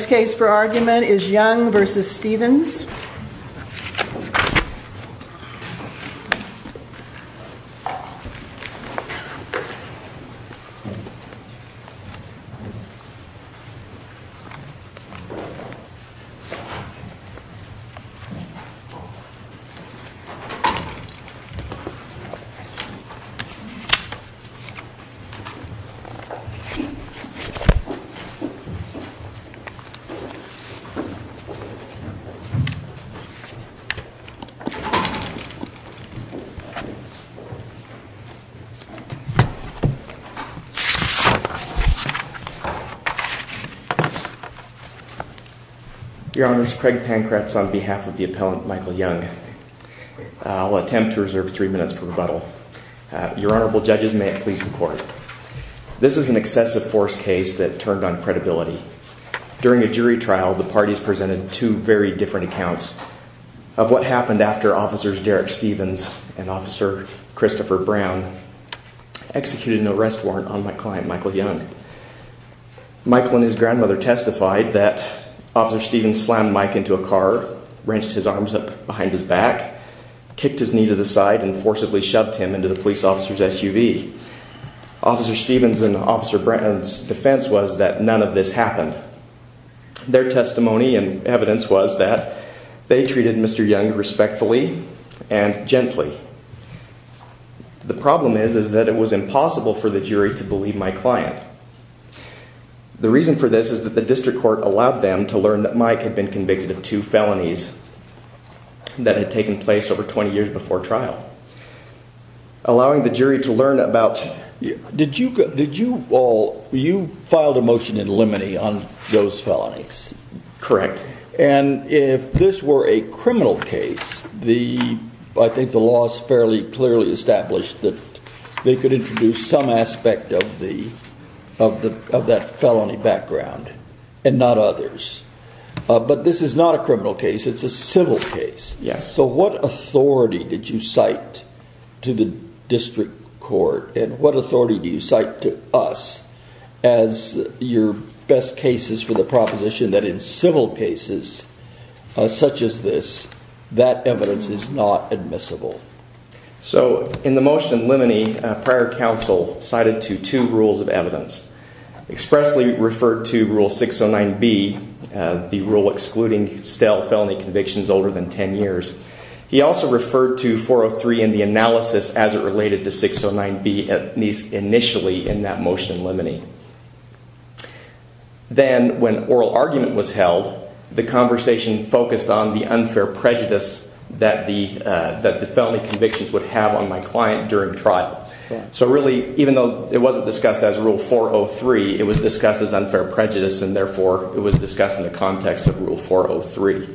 This case for argument is Young v. Stephens. Your Honors, Craig Pankratz on behalf of the appellant Michael Young. I'll attempt to reserve three minutes for rebuttal. Your Honorable Judges, may it please the Court. This is an arbitrary jury trial. The parties presented two very different accounts of what happened after Officers Derek Stephens and Officer Christopher Brown executed an arrest warrant on my client Michael Young. Michael and his grandmother testified that Officer Stephens slammed Mike into a car, wrenched his arms up behind his back, kicked his knee to the side and forcibly shoved him into the police officer's SUV. Officer Stephens and Officer Brown testified that they treated Mr. Young respectfully and gently. The problem is that it was impossible for the jury to believe my client. The reason for this is that the district court allowed them to learn that Mike had been convicted of two felonies that had taken place over 20 years before trial. Allowing the jury to learn about... But did you all, you filed a motion in limine on those felonies. Correct. And if this were a criminal case, I think the law is fairly clearly established that they could introduce some aspect of that felony background and not others. But this is not a criminal case, it's a civil case. So what authority did you cite to the district court and what authority do you cite to us as your best cases for the proposition that in civil cases such as this, that evidence is not admissible? So in the motion in limine, prior counsel cited to two rules of evidence. Expressly referred to Rule 609B, the rule excluding stale felony convictions older than 10 years. He also referred to 403 in the analysis as it related to 609B at least initially in that motion in limine. Then when oral argument was held, the conversation focused on the unfair prejudice that the felony convictions would have on my client during trial. So really even though it wasn't discussed as Rule 403, it was discussed as unfair prejudice and therefore it was discussed in the context of Rule 403.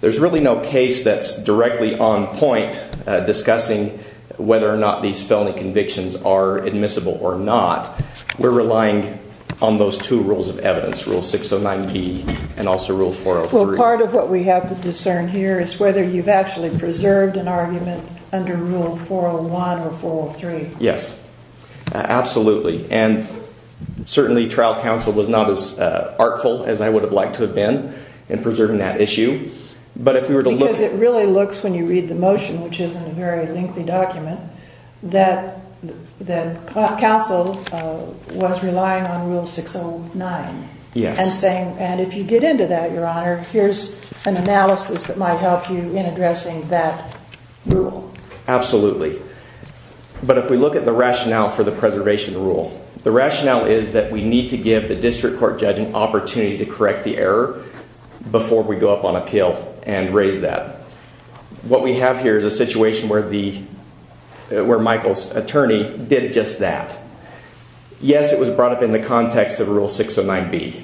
There's really no case that's directly on point discussing whether or not these felony convictions are admissible or not. We're relying on those two rules of evidence, Rule 609B and also Rule 403. Well part of what we have to discern here is whether you've actually preserved an argument under Rule 401 or 403. Yes, absolutely. And certainly trial counsel was not as artful as I would have liked to have been in preserving that issue. Because it really looks when you read the motion, which isn't a very lengthy document, that counsel was relying on Rule 609 and saying, and if you get into that, your honor, here's an analysis that might help you in addressing that rule. Absolutely. But if we look at the rationale for the preservation rule, the rationale is that we need to give the district court judge an opportunity to correct the error before we go up on appeal and raise that. What we have here is a situation where Michael's attorney did just that. Yes, it was brought up in the context of Rule 609B,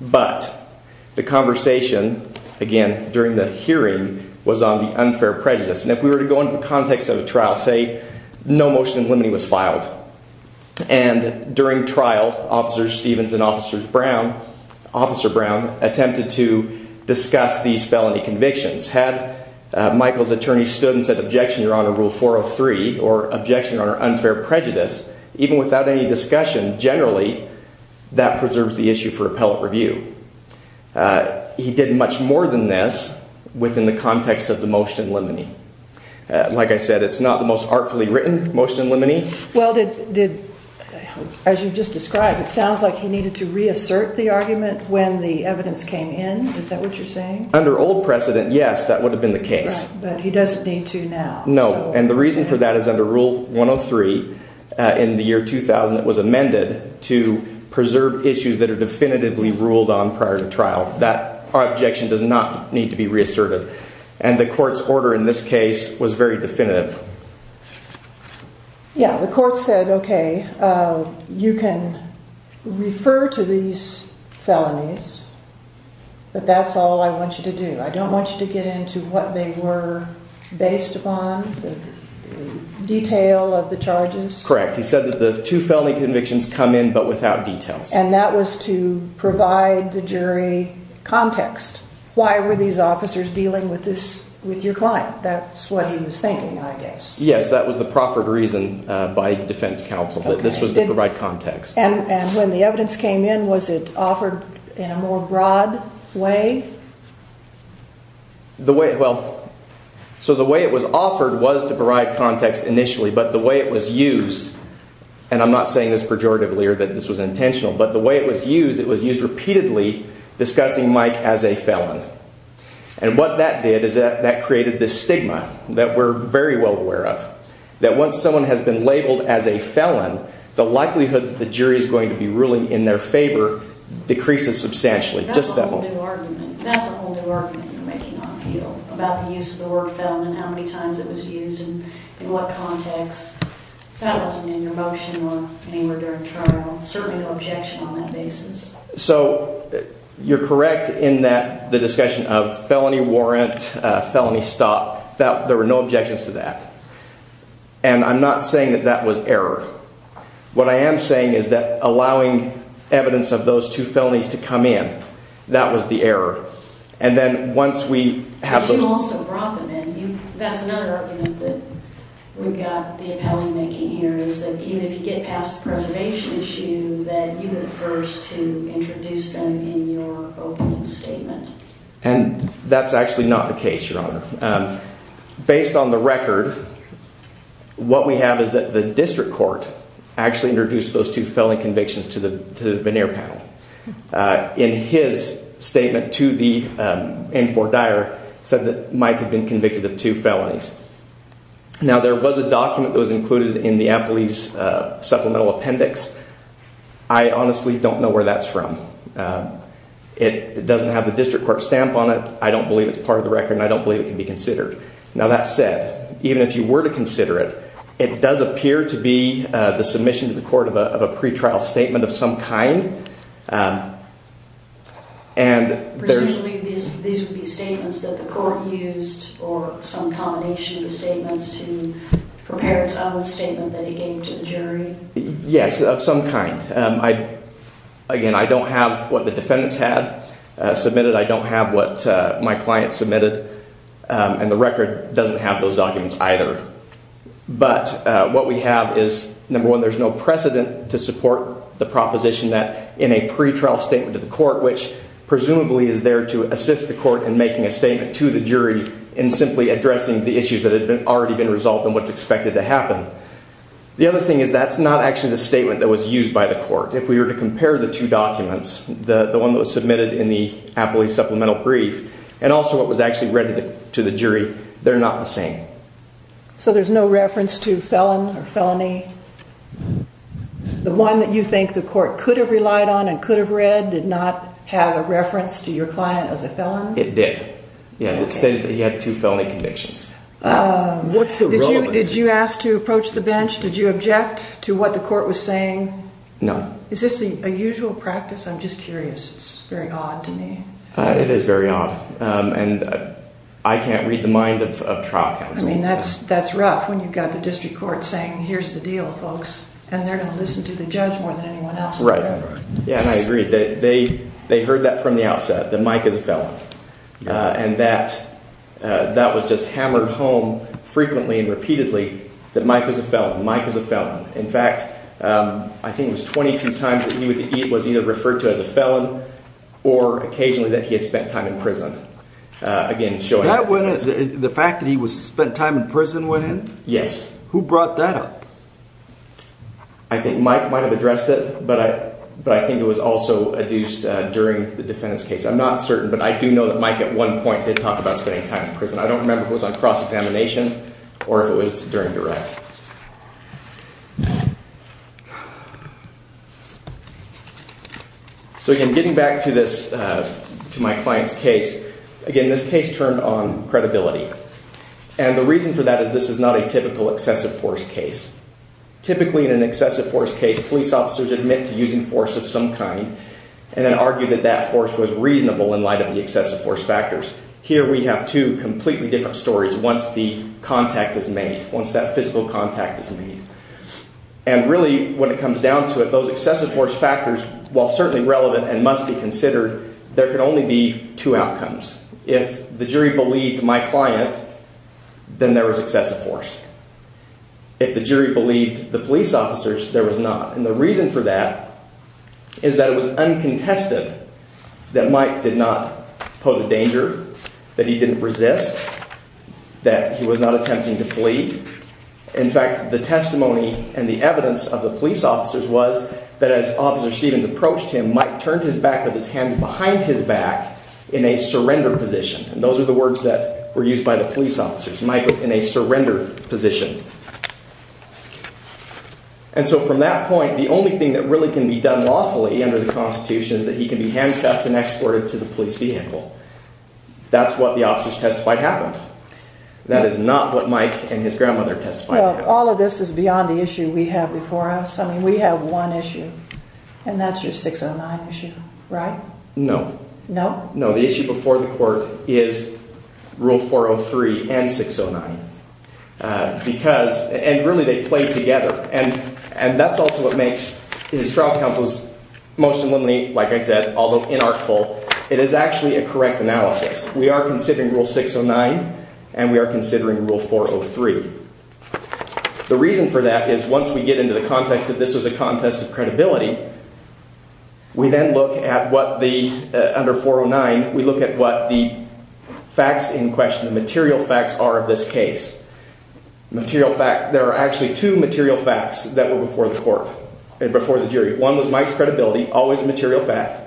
but the conversation, again during the hearing, was on the unfair prejudice. And if we were to go into the context of a trial, say no motion of limiting was filed, and during trial, Officers Stevens and Officer Brown attempted to discuss these felony convictions. Had Michael's attorney stood and said, objection, your honor, Rule 403, or objection, your honor, unfair prejudice, even without any discussion, generally that preserves the issue for appellate review. He did much more than this within the context of the motion limiting. Like I said, it's not the most artfully written motion limiting. Well, as you just described, it sounds like he needed to reassert the argument when the evidence came in. Is that what you're saying? Under old precedent, yes, that would have been the case. But he doesn't need to now. No, and the reason for that is under Rule 103, in the year 2000, it was amended to preserve issues that are definitively ruled on prior to trial. That objection does not need to be reasserted. And the court's order in this case was very definitive. Yeah, the court said, okay, you can refer to these felonies, but that's all I want you to do. I don't want you to get into what they were based upon, the detail of the charges. Correct. He said that the two felony convictions come in, but without details. And that was to provide the jury context. Why were these officers dealing with your client? That's what he was thinking, I guess. Yes, that was the proffered reason by defense counsel, that this was to provide context. And when the evidence came in, was it offered in a more broad way? So the way it was offered was to provide context initially, but the way it was used, and I'm not saying this pejoratively or that this was intentional, but the way it was used, it was used repeatedly discussing Mike as a felon. And what that did is that that created this stigma that we're very well aware of. That once someone has been labeled as a felon, the likelihood that the jury is going to be ruling in their favor decreases substantially. That's a whole new argument you're making on appeal about the use of the word felon and how many times it was used and in what context. That wasn't in your motion or anywhere during trial. Certainly no objection on that basis. So you're correct in that the discussion of felony warrant, felony stop, there were no objections to that. And I'm not saying that that was error. What I am saying is that allowing evidence of those two felonies to come in, that was the error. And then once we have those... But you also brought them in. That's another argument that we've got the appellee making here is that even if you get past the preservation issue, that you were the first to introduce them in your opening statement. And that's actually not the case, Your Honor. Based on the record, what we have is that the district court actually introduced those two felony convictions to the veneer panel. In his statement to the N-4 Dyer said that Mike had been convicted of two felonies. Now there was a document that was included in the appellee's supplemental appendix. I honestly don't know where that's from. It doesn't have the district court stamp on it. I don't believe it's part of the record and I don't believe it can be considered. Now that said, even if you were to consider it, it does appear to be the submission to the court of a pretrial statement of some kind. And there's... Presumably these would be statements that the court used or some combination of the statements to prepare its own statement that it gave to the jury. Yes, of some kind. Again, I don't have what the defendants had submitted. I don't have what my client submitted and the record doesn't have those documents either. But what we have is, number one, there's no precedent to support the proposition that in a pretrial statement to the court, which presumably is there to assist the court in making a statement to the jury in simply addressing the issues that had already been resolved and what's expected to happen. The other thing is that's not actually the statement that was used by the court. If we were to compare the two documents, the one that was submitted in the appellee's supplemental brief and also what was actually read to the jury, they're not the same. So there's no reference to felon or felony? The one that you think the court could have relied on and could have read did not have a reference to your client as a felon? It did. Yes, it stated that he had two felony convictions. What's the relevance? Did you ask to approach the bench? Did you object to what the court was saying? No. Is this a usual practice? I'm just curious. It's very odd to me. It is very odd. And I can't read the mind of trial counsel. I mean, that's rough when you've got the district court saying, here's the deal, folks, and they're going to listen to the judge more than anyone else ever. Yeah, and I agree. They heard that from the outset, that Mike is a felon. And that was just hammered home frequently and repeatedly, that Mike is a felon. Mike is a felon. In fact, I think it was 22 times that he was either referred to as a felon or occasionally that he had spent time in prison. The fact that he spent time in prison with him? Yes. Who brought that up? I think Mike might have addressed it, but I think it was also adduced during the defendant's case. I'm not certain, but I do know that Mike at one point did talk about spending time in prison. I don't remember if it was on cross-examination or if it was during direct. So again, getting back to my client's case, again, this case turned on credibility. And the reason for that is this is not a typical excessive force case. Typically in an excessive force case, police officers admit to using force of some kind and then argue that that force was reasonable in light of the excessive force factors. Here we have two completely different stories once the contact is made, once that physical contact is made. And really, when it comes down to it, those excessive force factors, while certainly relevant and must be considered, there can only be two outcomes. If the jury believed my client, then there was excessive force. If the jury believed the police officers, there was not. And the reason for that is that it was uncontested that Mike did not pose a danger, that he didn't resist, that he was not attempting to flee. In fact, the testimony and the evidence of the police officers was that as Officer Stevens approached him, Mike turned his back with his hands behind his back in a surrender position. And those are the words that were used by the police officers, Mike was in a surrender position. And so from that point, the only thing that really can be done lawfully under the Constitution is that he can be handcuffed and exported to the police vehicle. That's what the officers testified happened. That is not what Mike and his grandmother testified happened. All of this is beyond the issue we have before us. I mean, we have one issue, and that's your 609 issue, right? No. No? No, the issue before the court is Rule 403 and 609. And really, they play together. And that's also what makes his trial counsel's motion, like I said, although inartful, it is actually a correct analysis. We are considering Rule 609, and we are considering Rule 403. The reason for that is once we get into the context that this was a contest of credibility, we then look at what the, under 409, we look at what the facts in question, the material facts are of this case. There are actually two material facts that were before the jury. One was Mike's credibility, always a material fact.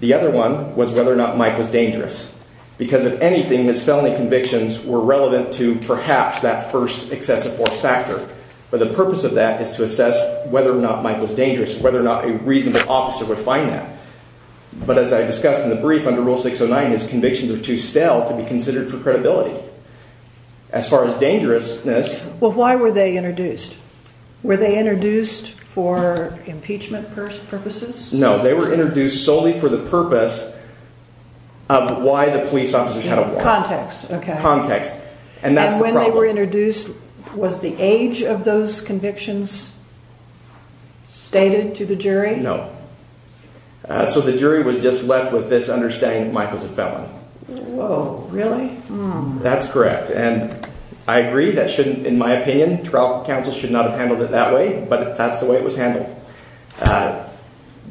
The other one was whether or not Mike was dangerous. Because if anything, his felony convictions were relevant to perhaps that first excessive force factor. But the purpose of that is to assess whether or not Mike was dangerous, whether or not a reasonable officer would find that. But as I discussed in the brief, under Rule 609, his convictions are too stale to be considered for credibility. As far as dangerousness... Well, why were they introduced? Were they introduced for impeachment purposes? No, they were introduced solely for the purpose of why the police officers had a warrant. Context, okay. Context. And that's the problem. And when they were introduced, was the age of those convictions stated to the jury? No. So the jury was just left with this understanding that Mike was a felon. Whoa, really? That's correct. And I agree, in my opinion, trial counsel should not have handled it that way. But that's the way it was handled.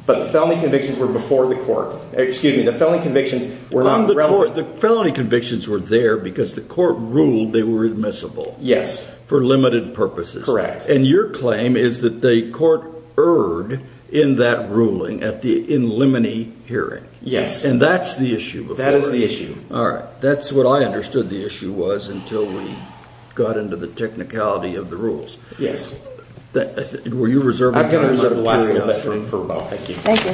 But felony convictions were before the court. Excuse me, the felony convictions were not relevant... The felony convictions were there because the court ruled they were admissible. Yes. For limited purposes. Correct. And your claim is that the court erred in that ruling, in limine hearing. Yes. And that's the issue. That is the issue. All right. That's what I understood the issue was until we got into the technicality of the rules. Yes. Were you reserving time? I'm going to reserve the last question for Rob. Thank you. Thank you.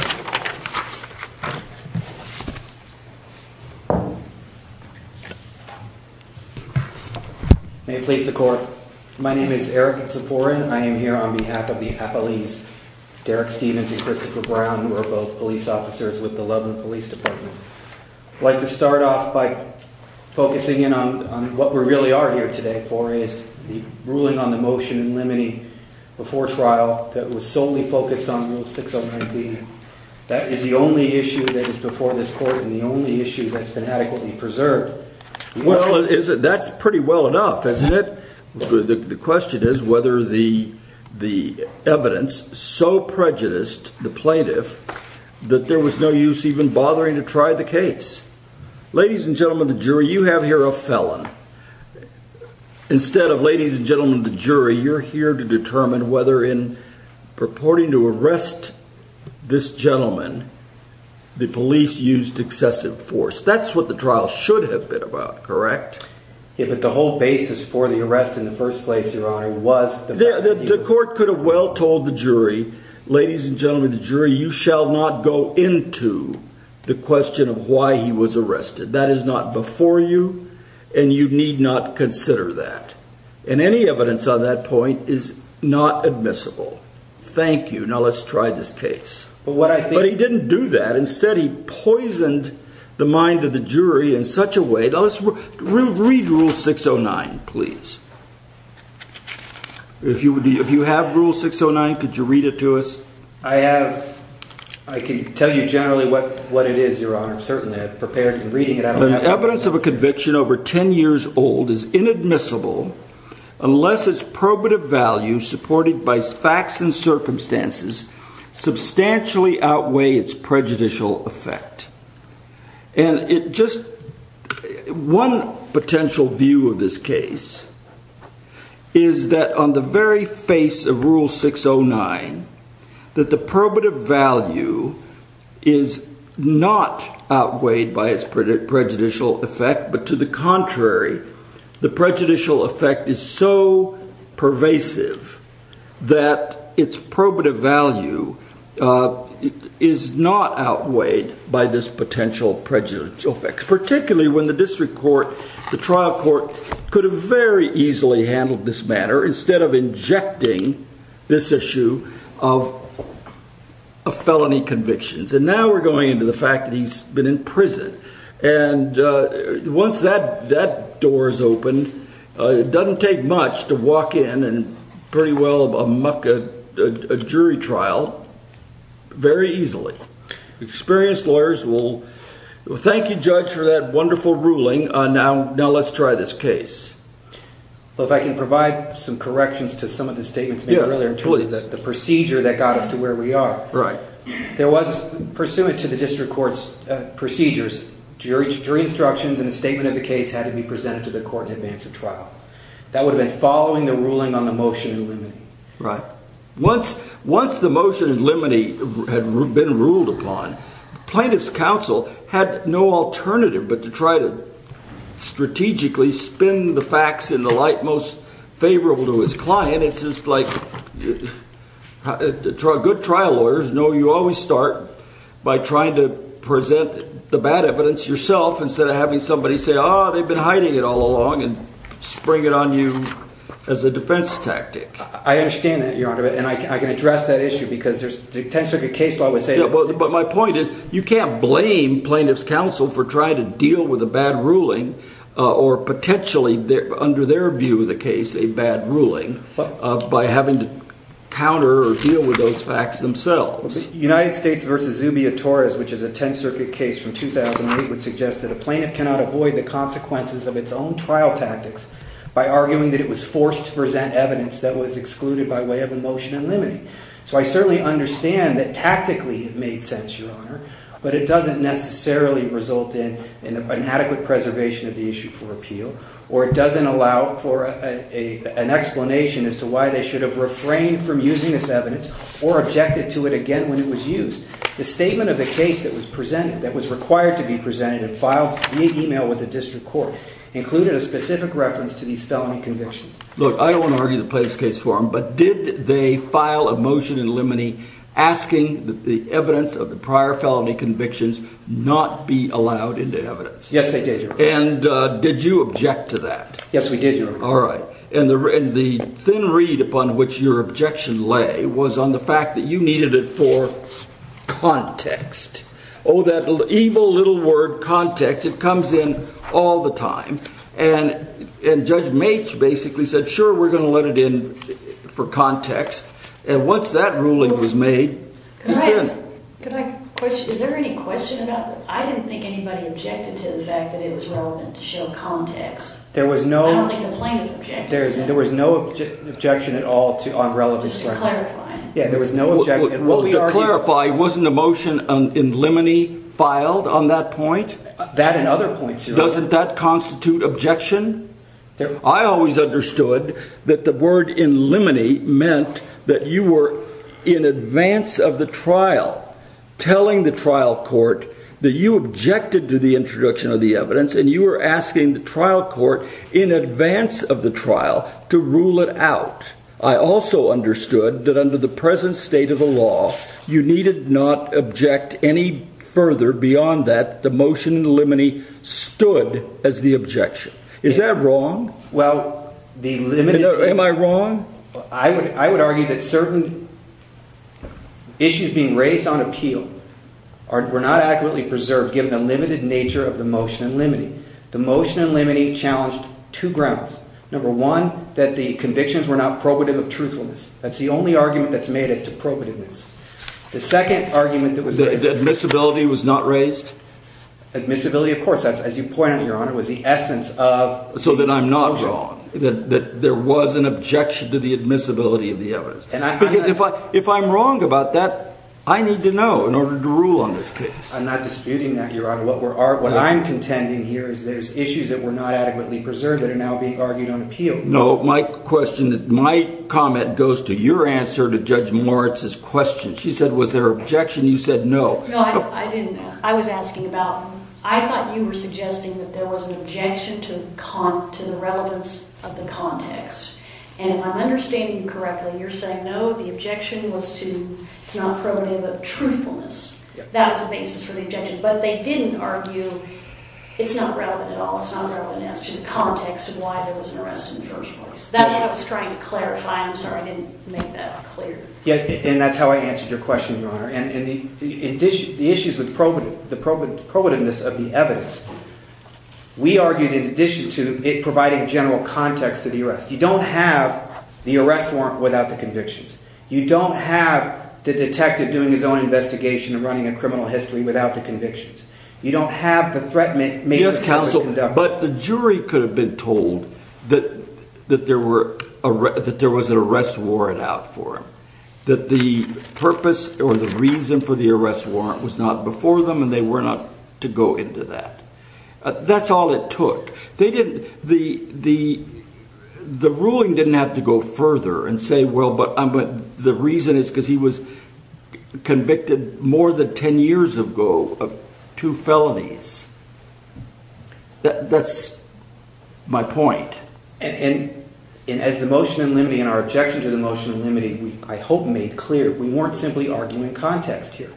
May it please the court. My name is Eric Zaporin. I am here on behalf of the Apalis, Derek Stevens and Christopher Brown, who are both police officers with the Lublin Police Department. I'd like to start off by focusing in on what we really are here today for, is the ruling on the motion in limine before trial that was solely focused on Rule 609B. That is the only issue that is before this court and the only issue that's been adequately preserved. Well, that's pretty well enough, isn't it? The question is whether the evidence so prejudiced the plaintiff that there was no use even bothering to try the case. Ladies and gentlemen of the jury, you have here a felon. Instead of ladies and gentlemen of the jury, you're here to determine whether in purporting to arrest this gentleman, the police used excessive force. That's what the trial should have been about, correct? Yeah, but the whole basis for the arrest in the first place, Your Honor, was... The court could have well told the jury, ladies and gentlemen of the jury, you shall not go into the question of why he was arrested. That is not before you and you need not consider that. And any evidence on that point is not admissible. Thank you. Now let's try this case. But what I think... But he didn't do that. Instead, he poisoned the mind of the jury in such a way... Now, let's read Rule 609, please. If you have Rule 609, could you read it to us? I have. I can tell you generally what it is, Your Honor. I'm certain that, prepared and reading it, I don't have... Evidence of a conviction over 10 years old is inadmissible unless its probative value, supported by facts and circumstances, substantially outweigh its prejudicial effect. And it just... One potential view of this case is that on the very face of Rule 609, that the probative value is not outweighed by its prejudicial effect, but to the contrary, the prejudicial effect is so pervasive that its probative value is not outweighed by this potential prejudicial effect, particularly when the district court, the trial court, could have very easily handled this matter instead of injecting this issue of felony convictions. And now we're going into the fact that he's been in prison. And once that door is opened, it doesn't take much to walk in and pretty well muck a jury trial very easily. Experienced lawyers will... Thank you, Judge, for that wonderful ruling. Now let's try this case. If I can provide some corrections to some of the statements made earlier in terms of the procedure that got us to where we are. There was, pursuant to the district court's procedures, jury instructions and a statement of the case had to be presented to the court in advance of trial. That would have been following the ruling on the motion in limine. Right. Once the motion in limine had been ruled upon, plaintiff's counsel had no alternative but to try to strategically spin the facts in the light most favorable to his client. And it's just like good trial lawyers know you always start by trying to present the bad evidence yourself instead of having somebody say, oh, they've been hiding it all along and spring it on you as a defense tactic. I understand that, Your Honor, and I can address that issue because the Tenth Circuit case law would say... But my point is you can't blame plaintiff's counsel for trying to deal with a bad ruling or potentially, under their view of the case, a bad ruling by having to counter or deal with those facts themselves. United States v. Zubia Torres, which is a Tenth Circuit case from 2008, would suggest that a plaintiff cannot avoid the consequences of its own trial tactics by arguing that it was forced to present evidence that was excluded by way of a motion in limine. So I certainly understand that tactically it made sense, Your Honor, but it doesn't necessarily result in an adequate preservation of the issue for appeal or it doesn't allow for an explanation as to why they should have refrained from using this evidence or objected to it again when it was used. The statement of the case that was presented, that was required to be presented and filed via email with the district court included a specific reference to these felony convictions. Look, I don't want to argue the plaintiff's case for them, but did they file a motion in limine asking that the evidence of the prior felony convictions not be allowed into evidence? Yes, they did, Your Honor. And did you object to that? Yes, we did, Your Honor. All right. And the thin reed upon which your objection lay was on the fact that you needed it for context. Oh, that evil little word, context, it comes in all the time. And Judge Maitch basically said, sure, we're going to let it in for context. And once that ruling was made, it's in. Is there any question about that? I didn't think anybody objected to the fact that it was relevant to show context. I don't think the plaintiff objected to that. There was no objection at all on relevance. Just to clarify. Yeah, there was no objection. Well, to clarify, wasn't the motion in limine filed on that point? That and other points, Your Honor. Doesn't that constitute objection? I always understood that the word in limine meant that you were in advance of the trial telling the trial court that you objected to the introduction of the evidence and you were asking the trial court in advance of the trial to rule it out. I also understood that under the present state of the law, you needed not object any further beyond that the motion in limine stood as the objection. Is that wrong? Am I wrong? I would argue that certain issues being raised on appeal were not accurately preserved given the limited nature of the motion in limine. The motion in limine challenged two grounds. Number one, that the convictions were not probative of truthfulness. That's the only argument that's made as to probativeness. The second argument that was raised... That admissibility was not raised? Admissibility, of course. As you pointed out, Your Honor, was the essence of the motion. So that I'm not wrong. That there was an objection to the admissibility of the evidence. Because if I'm wrong about that, I need to know in order to rule on this case. I'm not disputing that, Your Honor. What I'm contending here is there's issues that were not adequately preserved that are now being argued on appeal. No, my comment goes to your answer to Judge Moritz's question. She said, was there an objection? You said no. No, I didn't. I was asking about... I thought you were suggesting that there was an objection to the relevance of the context. And if I'm understanding you correctly, you're saying no, the objection was to... It's not probative of truthfulness. That was the basis for the objection. But they didn't argue it's not relevant at all. It's not relevant as to the context of why there was an arrest in the first place. That's what I was trying to clarify. I'm sorry I didn't make that clear. And that's how I answered your question, Your Honor. And the issues with the probativeness of the evidence, we argued in addition to it providing general context to the arrest. You don't have the arrest warrant without the convictions. You don't have the detective doing his own investigation and running a criminal history without the convictions. You don't have the threat made by the counter-conductor. Yes, counsel, but the jury could have been told that there was an arrest warrant out for him. That the purpose or the reason for the arrest warrant was not before them and they were not to go into that. That's all it took. The ruling didn't have to go further and say, well, but the reason is because he was convicted more than 10 years ago of two felonies. That's my point. And as the motion in limine and our objection to the motion in limine, I hope made clear, we weren't simply arguing context here.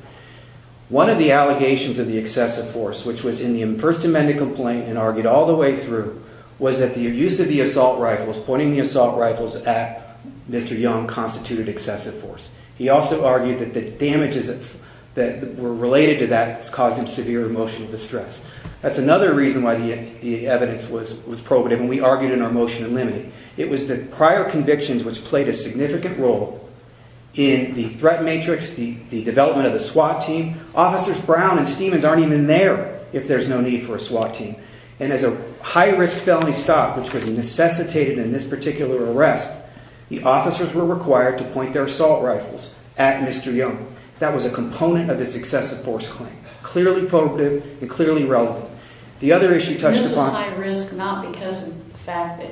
One of the allegations of the excessive force, which was in the first amended complaint and argued all the way through, was that the use of the assault rifles, pointing the assault rifles at Mr. Young, constituted excessive force. He also argued that the damages that were related to that caused him severe emotional distress. That's another reason why the evidence was probative and we argued in our motion in limine. It was the prior convictions which played a significant role in the threat matrix, the development of the SWAT team. Officers Brown and Stevens aren't even there if there's no need for a SWAT team. And as a high risk felony stop, which was necessitated in this particular arrest, the officers were required to point their assault rifles at Mr. Young. That was a component of his excessive force claim. Clearly probative and clearly relevant. This was high risk not because of the fact that,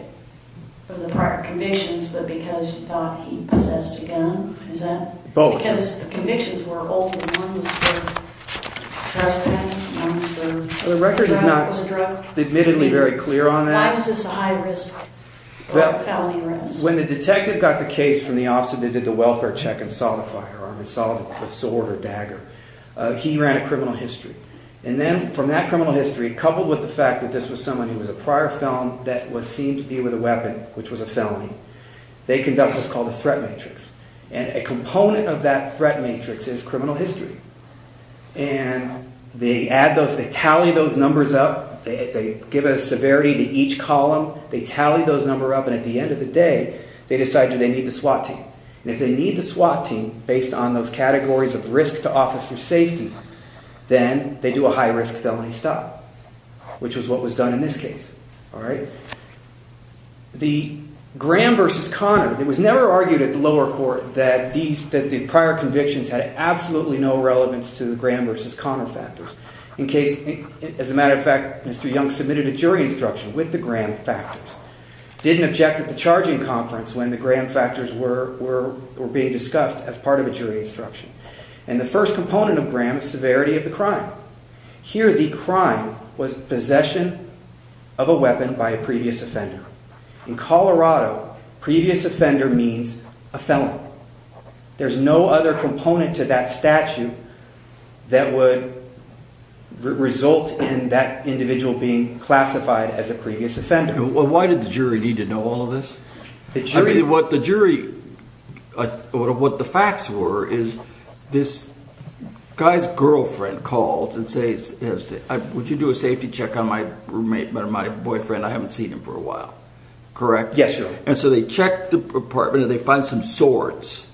from the prior convictions, but because you thought he possessed a gun? Is that? Both. Because the convictions were open. One was for trespass, one was for... The record is not admittedly very clear on that. Why was this a high risk felony arrest? When the detective got the case from the officer that did the welfare check and saw the firearm and saw the sword or dagger, he ran a criminal history. And then from that criminal history, coupled with the fact that this was someone who was a prior felon that was seen to be with a weapon, which was a felony, they conduct what's called a threat matrix. And a component of that threat matrix is criminal history. And they add those, they tally those numbers up, they give a severity to each column, they tally those numbers up, and at the end of the day, they decide do they need the SWAT team. And if they need the SWAT team, based on those categories of risk to officer safety, then they do a high risk felony stop. Which is what was done in this case. The Graham vs. Connor, it was never argued at the lower court that the prior convictions had absolutely no relevance to the Graham vs. Connor factors. As a matter of fact, Mr. Young submitted a jury instruction with the Graham factors. Didn't object at the charging conference when the Graham factors were being discussed as part of a jury instruction. And the first component of Graham is severity of the crime. Here the crime was possession of a weapon by a previous offender. In Colorado, previous offender means a felon. There's no other component to that statute that would result in that individual being classified as a previous offender. Why did the jury need to know all of this? What the jury, what the facts were, is this guy's girlfriend calls and says, would you do a safety check on my roommate, my boyfriend, I haven't seen him for a while. Correct? Yes, your honor. And so they check the apartment and they find some swords.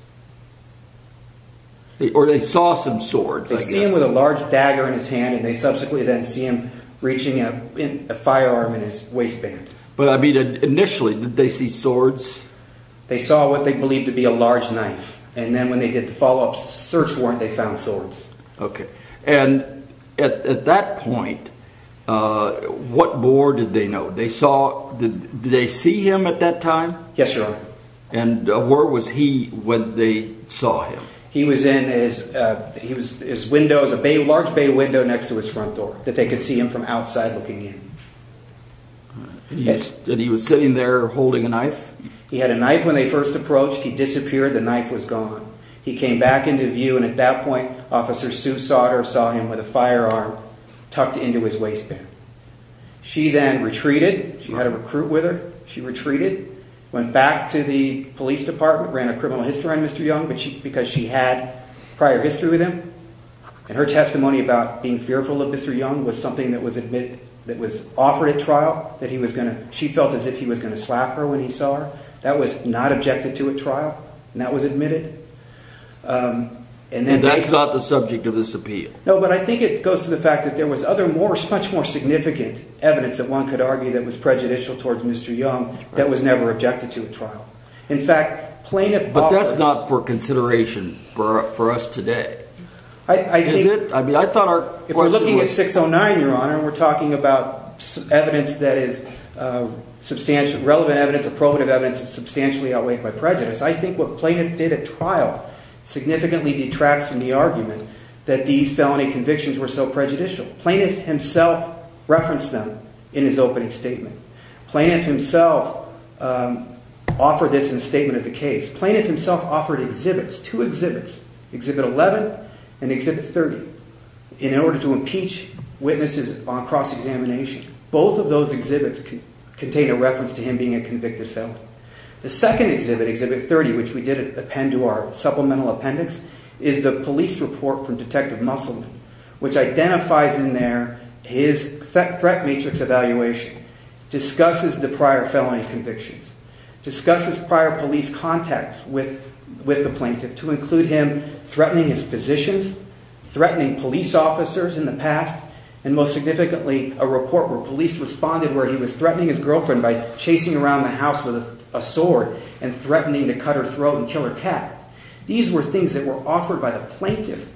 Or they saw some swords. They see him with a large dagger in his hand and they subsequently then see him reaching a firearm in his waistband. But I mean, initially, did they see swords? They saw what they believed to be a large knife. And then when they did the follow up search warrant, they found swords. Okay. And at that point, what more did they know? They saw, did they see him at that time? Yes, your honor. And where was he when they saw him? He was in his windows, a large bay window next to his front door. That they could see him from outside looking in. And he was sitting there holding a knife? He had a knife when they first approached. He disappeared. The knife was gone. He came back into view and at that point, Officer Sue Sauter saw him with a firearm tucked into his waistband. She then retreated. She had a recruit with her. She retreated. Went back to the police department. Ran a criminal history on Mr. Young because she had prior history with him. And her testimony about being fearful of Mr. Young was something that was offered at trial. She felt as if he was going to slap her when he saw her. That was not objected to at trial. And that was admitted. And that's not the subject of this appeal. No, but I think it goes to the fact that there was other, much more significant evidence that one could argue that was prejudicial towards Mr. Young that was never objected to at trial. But that's not for consideration for us today. Is it? If we're looking at 609, Your Honor, and we're talking about evidence that is relevant evidence, approbative evidence that's substantially outweighed by prejudice, I think what Plaintiff did at trial significantly detracts from the argument that these felony convictions were so prejudicial. Plaintiff himself referenced them in his opening statement. Plaintiff himself offered this in a statement of the case. Plaintiff himself offered exhibits, two exhibits, Exhibit 11 and Exhibit 30, in order to impeach witnesses on cross-examination. Both of those exhibits contain a reference to him being a convicted felon. The second exhibit, Exhibit 30, which we did append to our supplemental appendix, is the police report from Detective Musselman, which identifies in there his threat matrix evaluation, discusses the prior felony convictions, discusses prior police contact with the plaintiff, to include him threatening his physicians, threatening police officers in the past, and most significantly, a report where police responded where he was threatening his girlfriend by chasing around the house with a sword and threatening to cut her throat and kill her cat. These were things that were offered by the plaintiff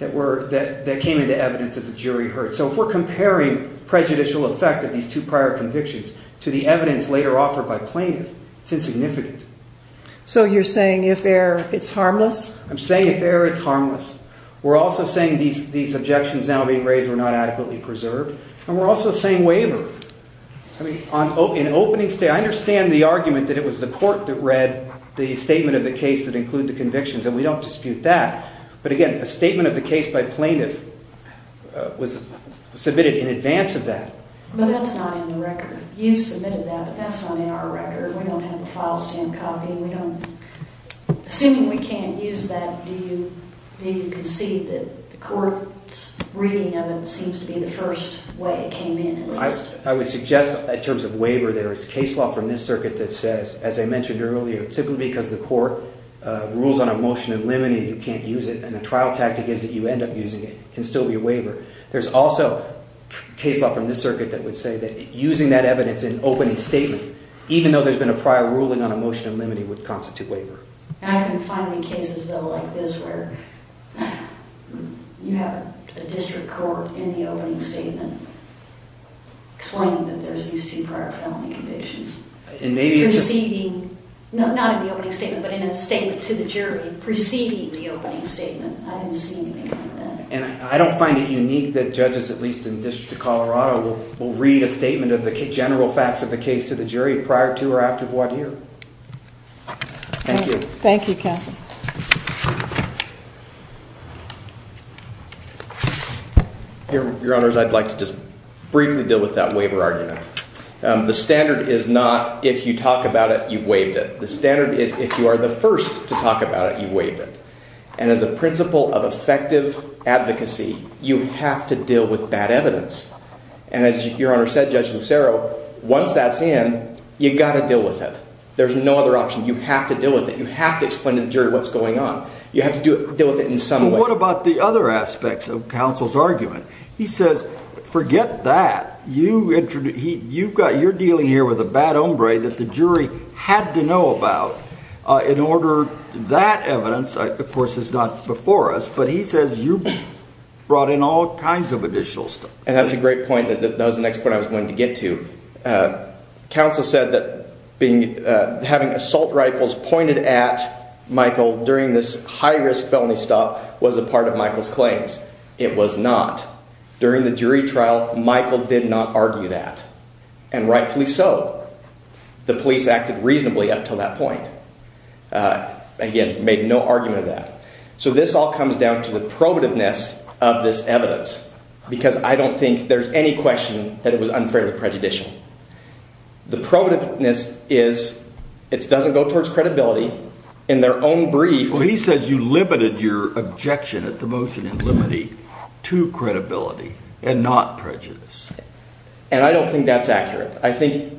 that came into evidence as the jury heard. So if we're comparing prejudicial effect of these two prior convictions to the evidence later offered by plaintiff, it's insignificant. So you're saying if error, it's harmless? I'm saying if error, it's harmless. We're also saying these objections now being raised were not adequately preserved, and we're also saying waiver. In opening statement, I understand the argument that it was the court that read the statement of the case that included the convictions, and we don't dispute that. But again, a statement of the case by plaintiff was submitted in advance of that. But that's not in the record. You submitted that, but that's not in our record. We don't have a file stand copy. Assuming we can't use that, do you concede that the court's reading of it seems to be the first way it came in? I would suggest in terms of waiver, there is case law from this circuit that says, as I mentioned earlier, typically because the court rules on a motion of limine, you can't use it, and the trial tactic is that you end up using it. It can still be a waiver. There's also case law from this circuit that would say that using that evidence in opening statement, even though there's been a prior ruling on a motion of limine, would constitute waiver. I couldn't find any cases, though, like this where you have a district court in the opening statement explaining that there's these two prior felony convictions, not in the opening statement but in a statement to the jury preceding the opening statement. I haven't seen anything like that. And I don't find it unique that judges, at least in the District of Colorado, will read a statement of the general facts of the case to the jury prior to or after voir dire. Thank you. Thank you, counsel. Your Honors, I'd like to just briefly deal with that waiver argument. The standard is not if you talk about it, you've waived it. The standard is if you are the first to talk about it, you've waived it. And as a principle of effective advocacy, you have to deal with bad evidence. And as Your Honor said, Judge Lucero, once that's in, you've got to deal with it. There's no other option. You have to deal with it. You have to explain to the jury what's going on. You have to deal with it in some way. But what about the other aspects of counsel's argument? He says, forget that. You're dealing here with a bad hombre that the jury had to know about in order that evidence, of course it's not before us, but he says you brought in all kinds of additional stuff. And that's a great point. That was the next point I was going to get to. Counsel said that having assault rifles pointed at Michael during this high-risk felony stop was a part of Michael's claims. It was not. During the jury trial, Michael did not argue that. And rightfully so. The police acted reasonably up until that point. Again, made no argument of that. So this all comes down to the probativeness of this evidence. Because I don't think there's any question that it was unfairly prejudicial. The probativeness is it doesn't go towards credibility. In their own brief... He says you limited your objection at the motion in limine to credibility and not prejudice. And I don't think that's accurate.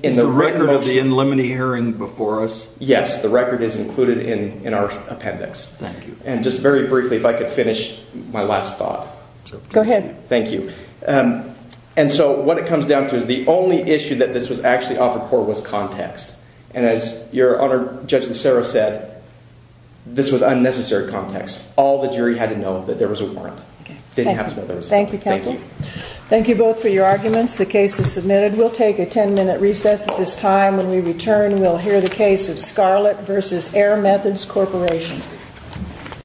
Is the record of the in limine hearing before us? Yes, the record is included in our appendix. Thank you. And just very briefly, if I could finish my last thought. Go ahead. Thank you. And so what it comes down to is the only issue that this was actually offered for was context. And as your Honor, Judge Nacero said, this was unnecessary context. All the jury had to know that there was a warrant. Thank you, counsel. Thank you both for your arguments. The case is submitted. We'll take a ten-minute recess at this time. When we return, we'll hear the case of Scarlett v. Air Methods Corporation.